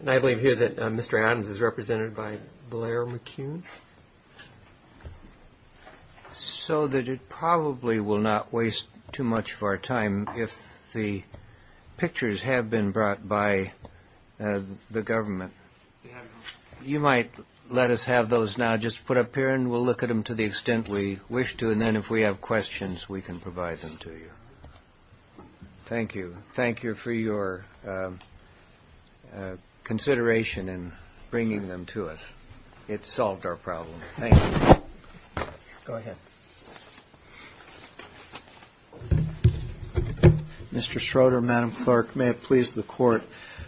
And I believe here that Mr. Adams is represented by Blair McCune. So that it probably will not waste too much of our time if the pictures have been brought by the government. You might let us have those now just put up here and we'll look at them to the extent we wish to. And then if we have questions, we can provide them to you. Thank you. Thank you for your consideration in bringing them to us. It solved our problem. Thank you. Go ahead. Mr. Schroeder, Madam Clerk, may it please the court.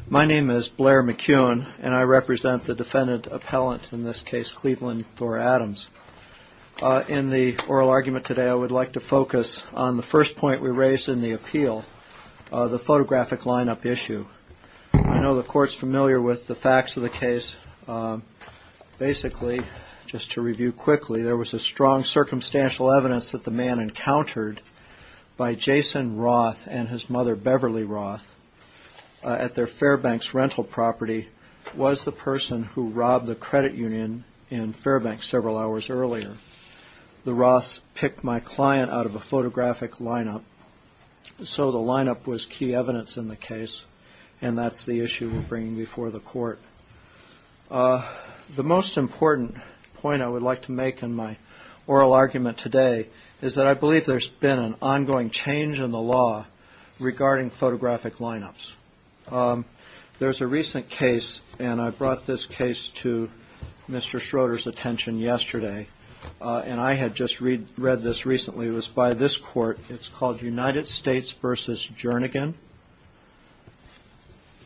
My name is Blair McCune and I represent the defendant appellant in this case, Cleveland Thor Adams. In the oral argument today, I would like to focus on the first point we raised in the appeal, the photographic lineup issue. I know the court's familiar with the facts of the case. Basically, just to review quickly, there was a strong circumstantial evidence that the man encountered by Jason Roth and his mother, The Roths picked my client out of a photographic lineup. So the lineup was key evidence in the case. And that's the issue we're bringing before the court. The most important point I would like to make in my oral argument today is that I believe there's been an ongoing change in the law regarding photographic lineups. There's a recent case, and I brought this case to Mr. Schroeder's attention yesterday, and I had just read this recently. It was by this court. It's called United States versus Jernigan.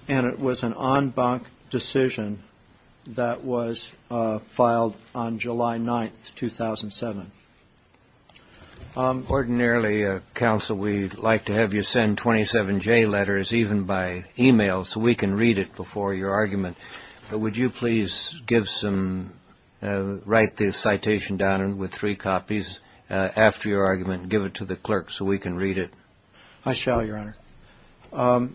And it was an en banc decision that was filed on July 9th, 2007. Ordinarily, counsel, we'd like to have you send 27 J letters, even by e-mail, so we can read it before your argument. Would you please give some, write this citation down with three copies after your argument and give it to the clerk so we can read it? I shall, Your Honor.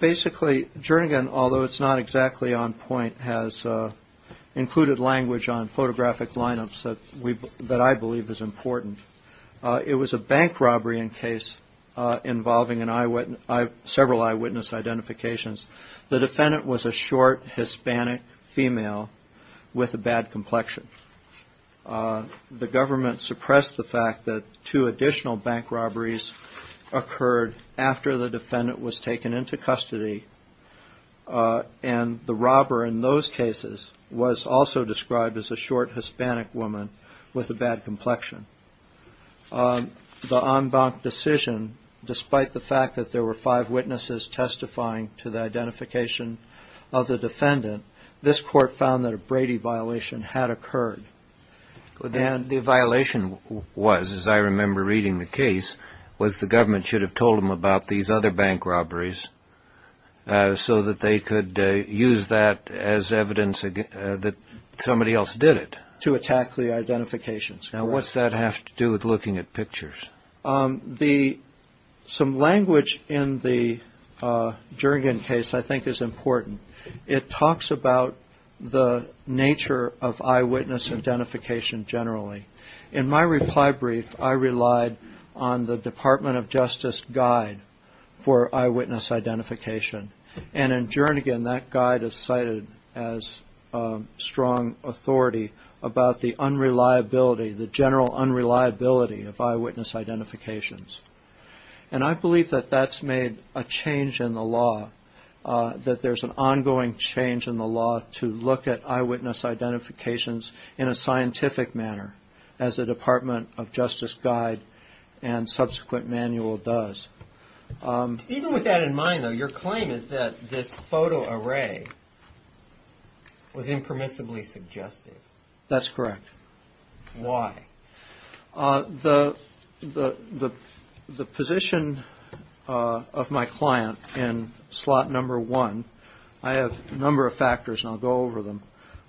Basically, Jernigan, although it's not exactly on point, has included language on photographic lineups that I believe is important. It was a bank robbery in case involving several eyewitness identifications. The defendant was a short Hispanic female with a bad complexion. The government suppressed the fact that two additional bank robberies occurred after the defendant was taken into custody. And the robber in those cases was also described as a short Hispanic woman with a bad complexion. The en banc decision, despite the fact that there were five witnesses testifying to the identification of the defendant, this court found that a Brady violation had occurred. The violation was, as I remember reading the case, was the government should have told them about these other bank robberies so that they could use that as evidence that somebody else did it. To attack the identifications. Now, what's that have to do with looking at pictures? Some language in the Jernigan case I think is important. It talks about the nature of eyewitness identification generally. In my reply brief, I relied on the Department of Justice guide for eyewitness identification. And in Jernigan, that guide is cited as strong authority about the unreliability, the general unreliability of eyewitness identifications. And I believe that that's made a change in the law. That there's an ongoing change in the law to look at eyewitness identifications in a scientific manner, as the Department of Justice guide and subsequent manual does. Even with that in mind, though, your claim is that this photo array was impermissibly suggested. That's correct. Why? The position of my client in slot number one, I have a number of factors and I'll go over them.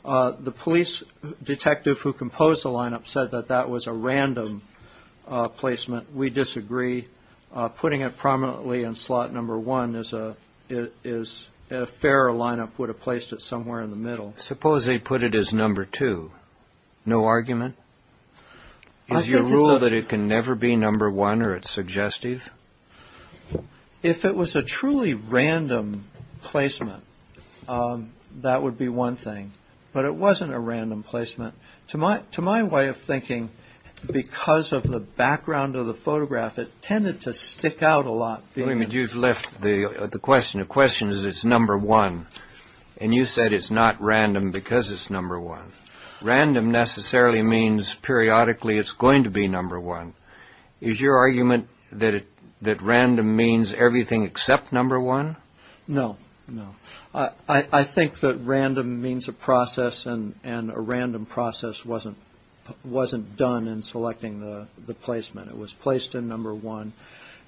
The police detective who composed the lineup said that that was a random placement. We disagree. Putting it prominently in slot number one is a fair lineup, would have placed it somewhere in the middle. Suppose they put it as number two. No argument? Is your rule that it can never be number one or it's suggestive? If it was a truly random placement, that would be one thing. But it wasn't a random placement. To my way of thinking, because of the background of the photograph, it tended to stick out a lot. William, you've left the question. The question is it's number one. And you said it's not random because it's number one. Random necessarily means periodically it's going to be number one. Is your argument that random means everything except number one? No, no. I think that random means a process and a random process wasn't done in selecting the placement. It was placed in number one.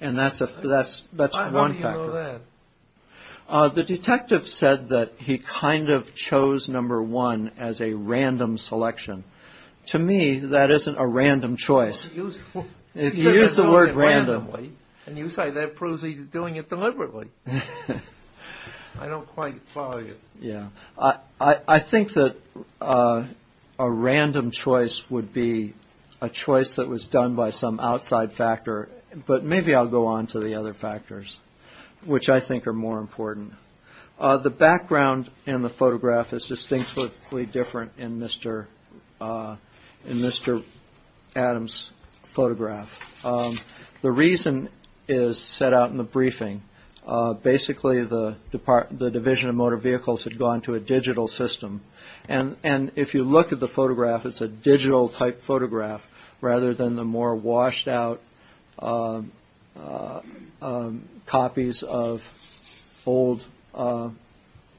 And that's one factor. How do you know that? The detective said that he kind of chose number one as a random selection. To me, that isn't a random choice. He used the word randomly. And you say that proves he's doing it deliberately. I don't quite follow you. Yeah, I think that a random choice would be a choice that was done by some outside factor. But maybe I'll go on to the other factors, which I think are more important. The background in the photograph is distinctly different in Mr. Mr. Adams photograph. The reason is set out in the briefing. Basically, the Division of Motor Vehicles had gone to a digital system. And if you look at the photograph, it's a digital-type photograph, rather than the more washed-out copies of old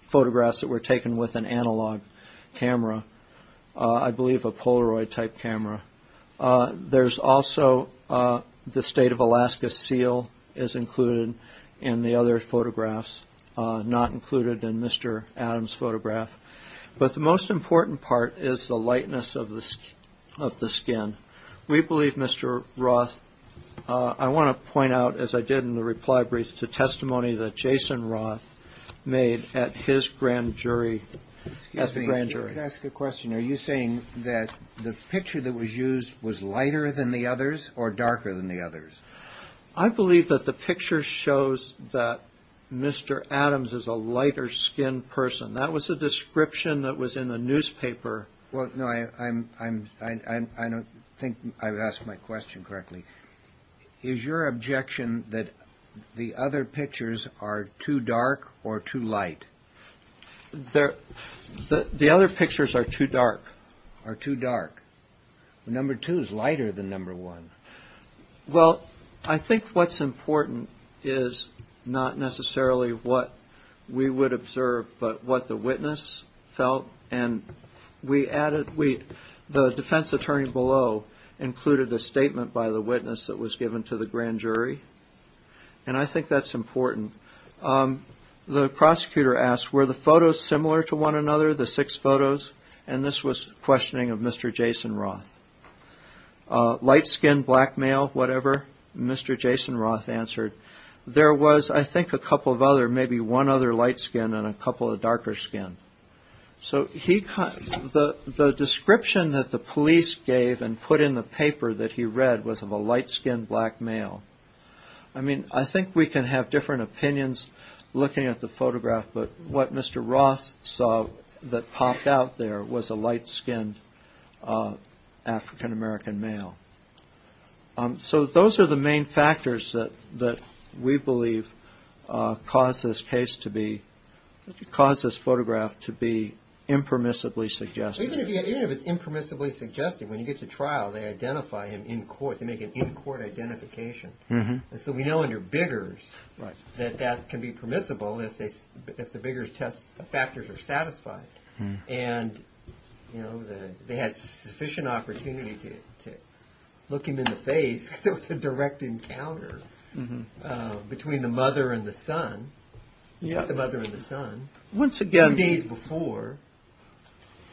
photographs that were taken with an analog camera, I believe a Polaroid-type camera. There's also the State of Alaska seal is included in the other photographs, not included in Mr. Adams' photograph. But the most important part is the lightness of the skin. We believe, Mr. Roth, I want to point out, as I did in the reply brief, the testimony that Jason Roth made at his grand jury, at the grand jury. Let me just ask a question. Are you saying that the picture that was used was lighter than the others or darker than the others? I believe that the picture shows that Mr. Adams is a lighter-skinned person. That was the description that was in the newspaper. Well, no, I don't think I've asked my question correctly. Is your objection that the other pictures are too dark or too light? The other pictures are too dark. Are too dark. Number two is lighter than number one. Well, I think what's important is not necessarily what we would observe, but what the witness felt. And we added, the defense attorney below included a statement by the witness that was given to the grand jury. And I think that's important. The prosecutor asked, were the photos similar to one another, the six photos? And this was questioning of Mr. Jason Roth. Light-skinned, black male, whatever, Mr. Jason Roth answered. There was, I think, a couple of other, maybe one other light-skinned and a couple of darker-skinned. So the description that the police gave and put in the paper that he read was of a light-skinned black male. I mean, I think we can have different opinions looking at the photograph, but what Mr. Roth saw that popped out there was a light-skinned African-American male. So those are the main factors that we believe caused this case to be, caused this photograph to be impermissibly suggested. Even if it's impermissibly suggested, when you get to trial, they identify him in court. They make an in-court identification. And so we know under Biggers that that can be permissible if the Biggers test factors are satisfied. And, you know, they had sufficient opportunity to look him in the face, because it was a direct encounter between the mother and the son, the mother and the son.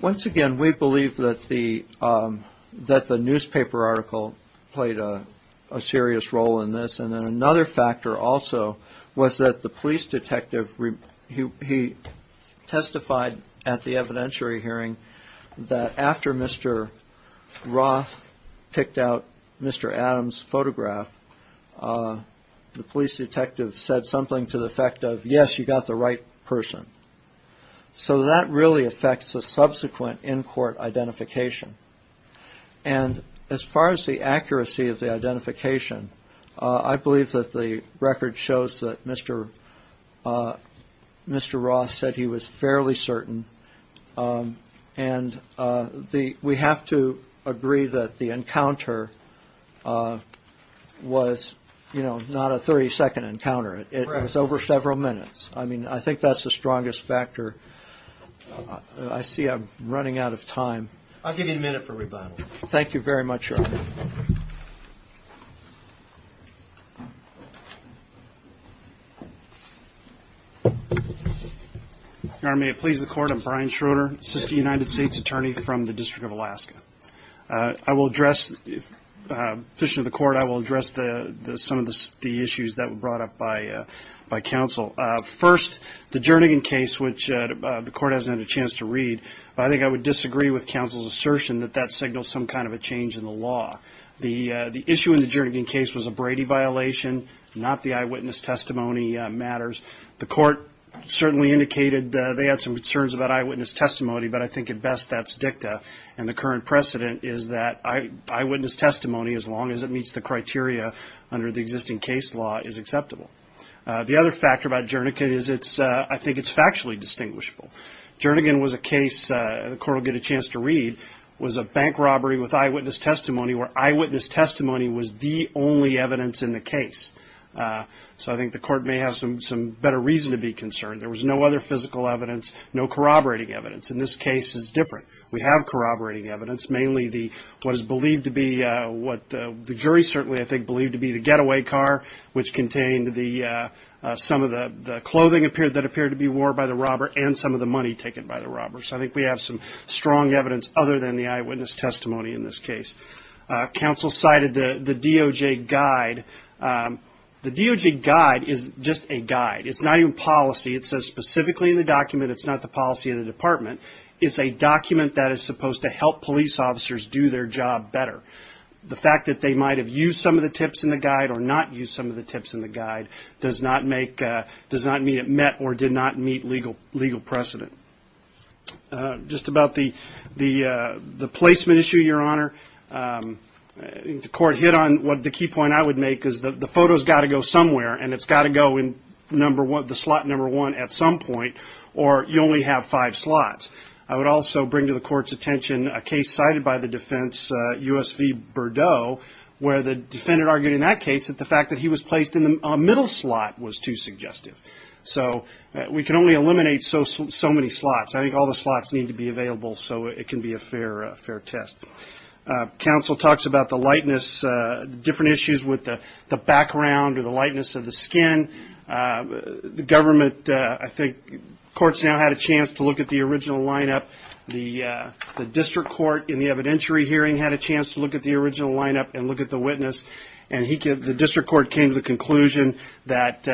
Once again, we believe that the newspaper article played a serious role in this. And then another factor also was that the police detective, he testified at the evidentiary hearing that after Mr. Roth picked out Mr. Adams' photograph, the police detective said something to the effect of, yes, you got the right person. So that really affects the subsequent in-court identification. And as far as the accuracy of the identification, I believe that the record shows that Mr. Roth said he was fairly certain. And we have to agree that the encounter was, you know, not a 30-second encounter. It was over several minutes. I mean, I think that's the strongest factor. I see I'm running out of time. I'll give you a minute for rebuttal. Thank you very much, Your Honor. Thank you. Your Honor, may it please the Court, I'm Brian Schroeder, assistant United States attorney from the District of Alaska. I will address, in the interest of the Court, I will address some of the issues that were brought up by counsel. First, the Jernigan case, which the Court hasn't had a chance to read, but I think I would disagree with counsel's assertion that that signals some kind of a change in the law. The issue in the Jernigan case was a Brady violation, not the eyewitness testimony matters. The Court certainly indicated they had some concerns about eyewitness testimony, but I think at best that's dicta. And the current precedent is that eyewitness testimony, as long as it meets the criteria under the existing case law, is acceptable. The other factor about Jernigan is I think it's factually distinguishable. Jernigan was a case, the Court will get a chance to read, was a bank robbery with eyewitness testimony where eyewitness testimony was the only evidence in the case. So I think the Court may have some better reason to be concerned. There was no other physical evidence, no corroborating evidence. And this case is different. We have corroborating evidence, mainly what is believed to be, what the jury certainly, I think, believed to be the getaway car, which contained some of the clothing that appeared to be wore by the robber and some of the money taken by the robber. So I think we have some strong evidence other than the eyewitness testimony in this case. Counsel cited the DOJ guide. The DOJ guide is just a guide. It's not even policy. It says specifically in the document it's not the policy of the department. It's a document that is supposed to help police officers do their job better. The fact that they might have used some of the tips in the guide or not used some of the tips in the guide does not make, does not mean it met or did not meet legal precedent. Just about the placement issue, Your Honor, the Court hit on what the key point I would make is that the photo's got to go somewhere, and it's got to go in the slot number one at some point, or you only have five slots. I would also bring to the Court's attention a case cited by the defense, U.S. v. Bordeaux, where the defendant argued in that case that the fact that he was placed in the middle slot was too suggestive. So we can only eliminate so many slots. I think all the slots need to be available so it can be a fair test. Counsel talks about the lightness, different issues with the background or the lightness of the skin. The government, I think, courts now had a chance to look at the original lineup. The district court in the evidentiary hearing had a chance to look at the original lineup and look at the witness, and the district court came to the conclusion that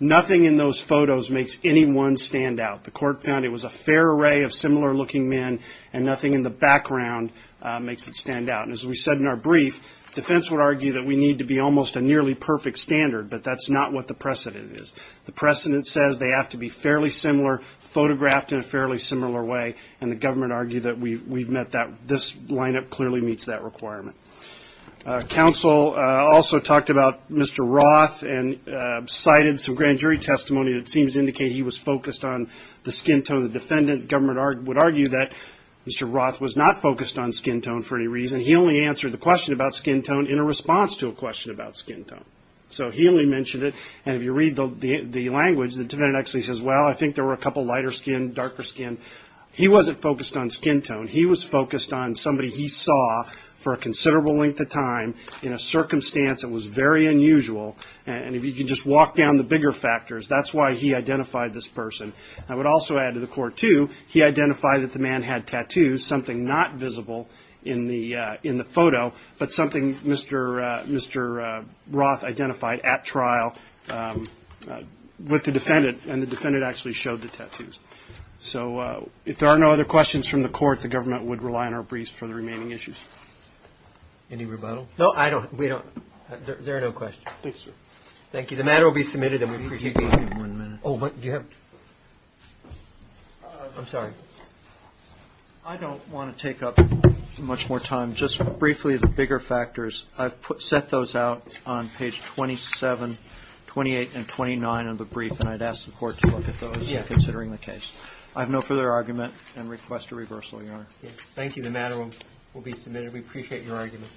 nothing in those photos makes any one stand out. The court found it was a fair array of similar-looking men, and nothing in the background makes it stand out. And as we said in our brief, defense would argue that we need to be almost a nearly perfect standard, but that's not what the precedent is. The precedent says they have to be fairly similar, photographed in a fairly similar way, and the government argued that we've met that. This lineup clearly meets that requirement. Counsel also talked about Mr. Roth and cited some grand jury testimony that seems to indicate he was focused on the skin tone. The defendant, the government would argue that Mr. Roth was not focused on skin tone for any reason. He only answered the question about skin tone in a response to a question about skin tone. So he only mentioned it, and if you read the language, the defendant actually says, well, I think there were a couple lighter skin, darker skin. He wasn't focused on skin tone. He was focused on somebody he saw for a considerable length of time in a circumstance that was very unusual, and if you could just walk down the bigger factors, that's why he identified this person. I would also add to the court, too, he identified that the man had tattoos, something not visible in the photo, but something Mr. Roth identified at trial with the defendant, and the defendant actually showed the tattoos. So if there are no other questions from the court, the government would rely on our briefs for the remaining issues. Any rebuttal? No, I don't. We don't. There are no questions. Thank you, sir. Thank you. The matter will be submitted, and we appreciate you being here. I'm sorry. I don't want to take up much more time. Just briefly, the bigger factors, I've set those out on page 27, 28, and 29 of the brief, and I'd ask the court to look at those considering the case. I have no further argument and request a reversal, Your Honor. Thank you. The matter will be submitted. We appreciate your argument.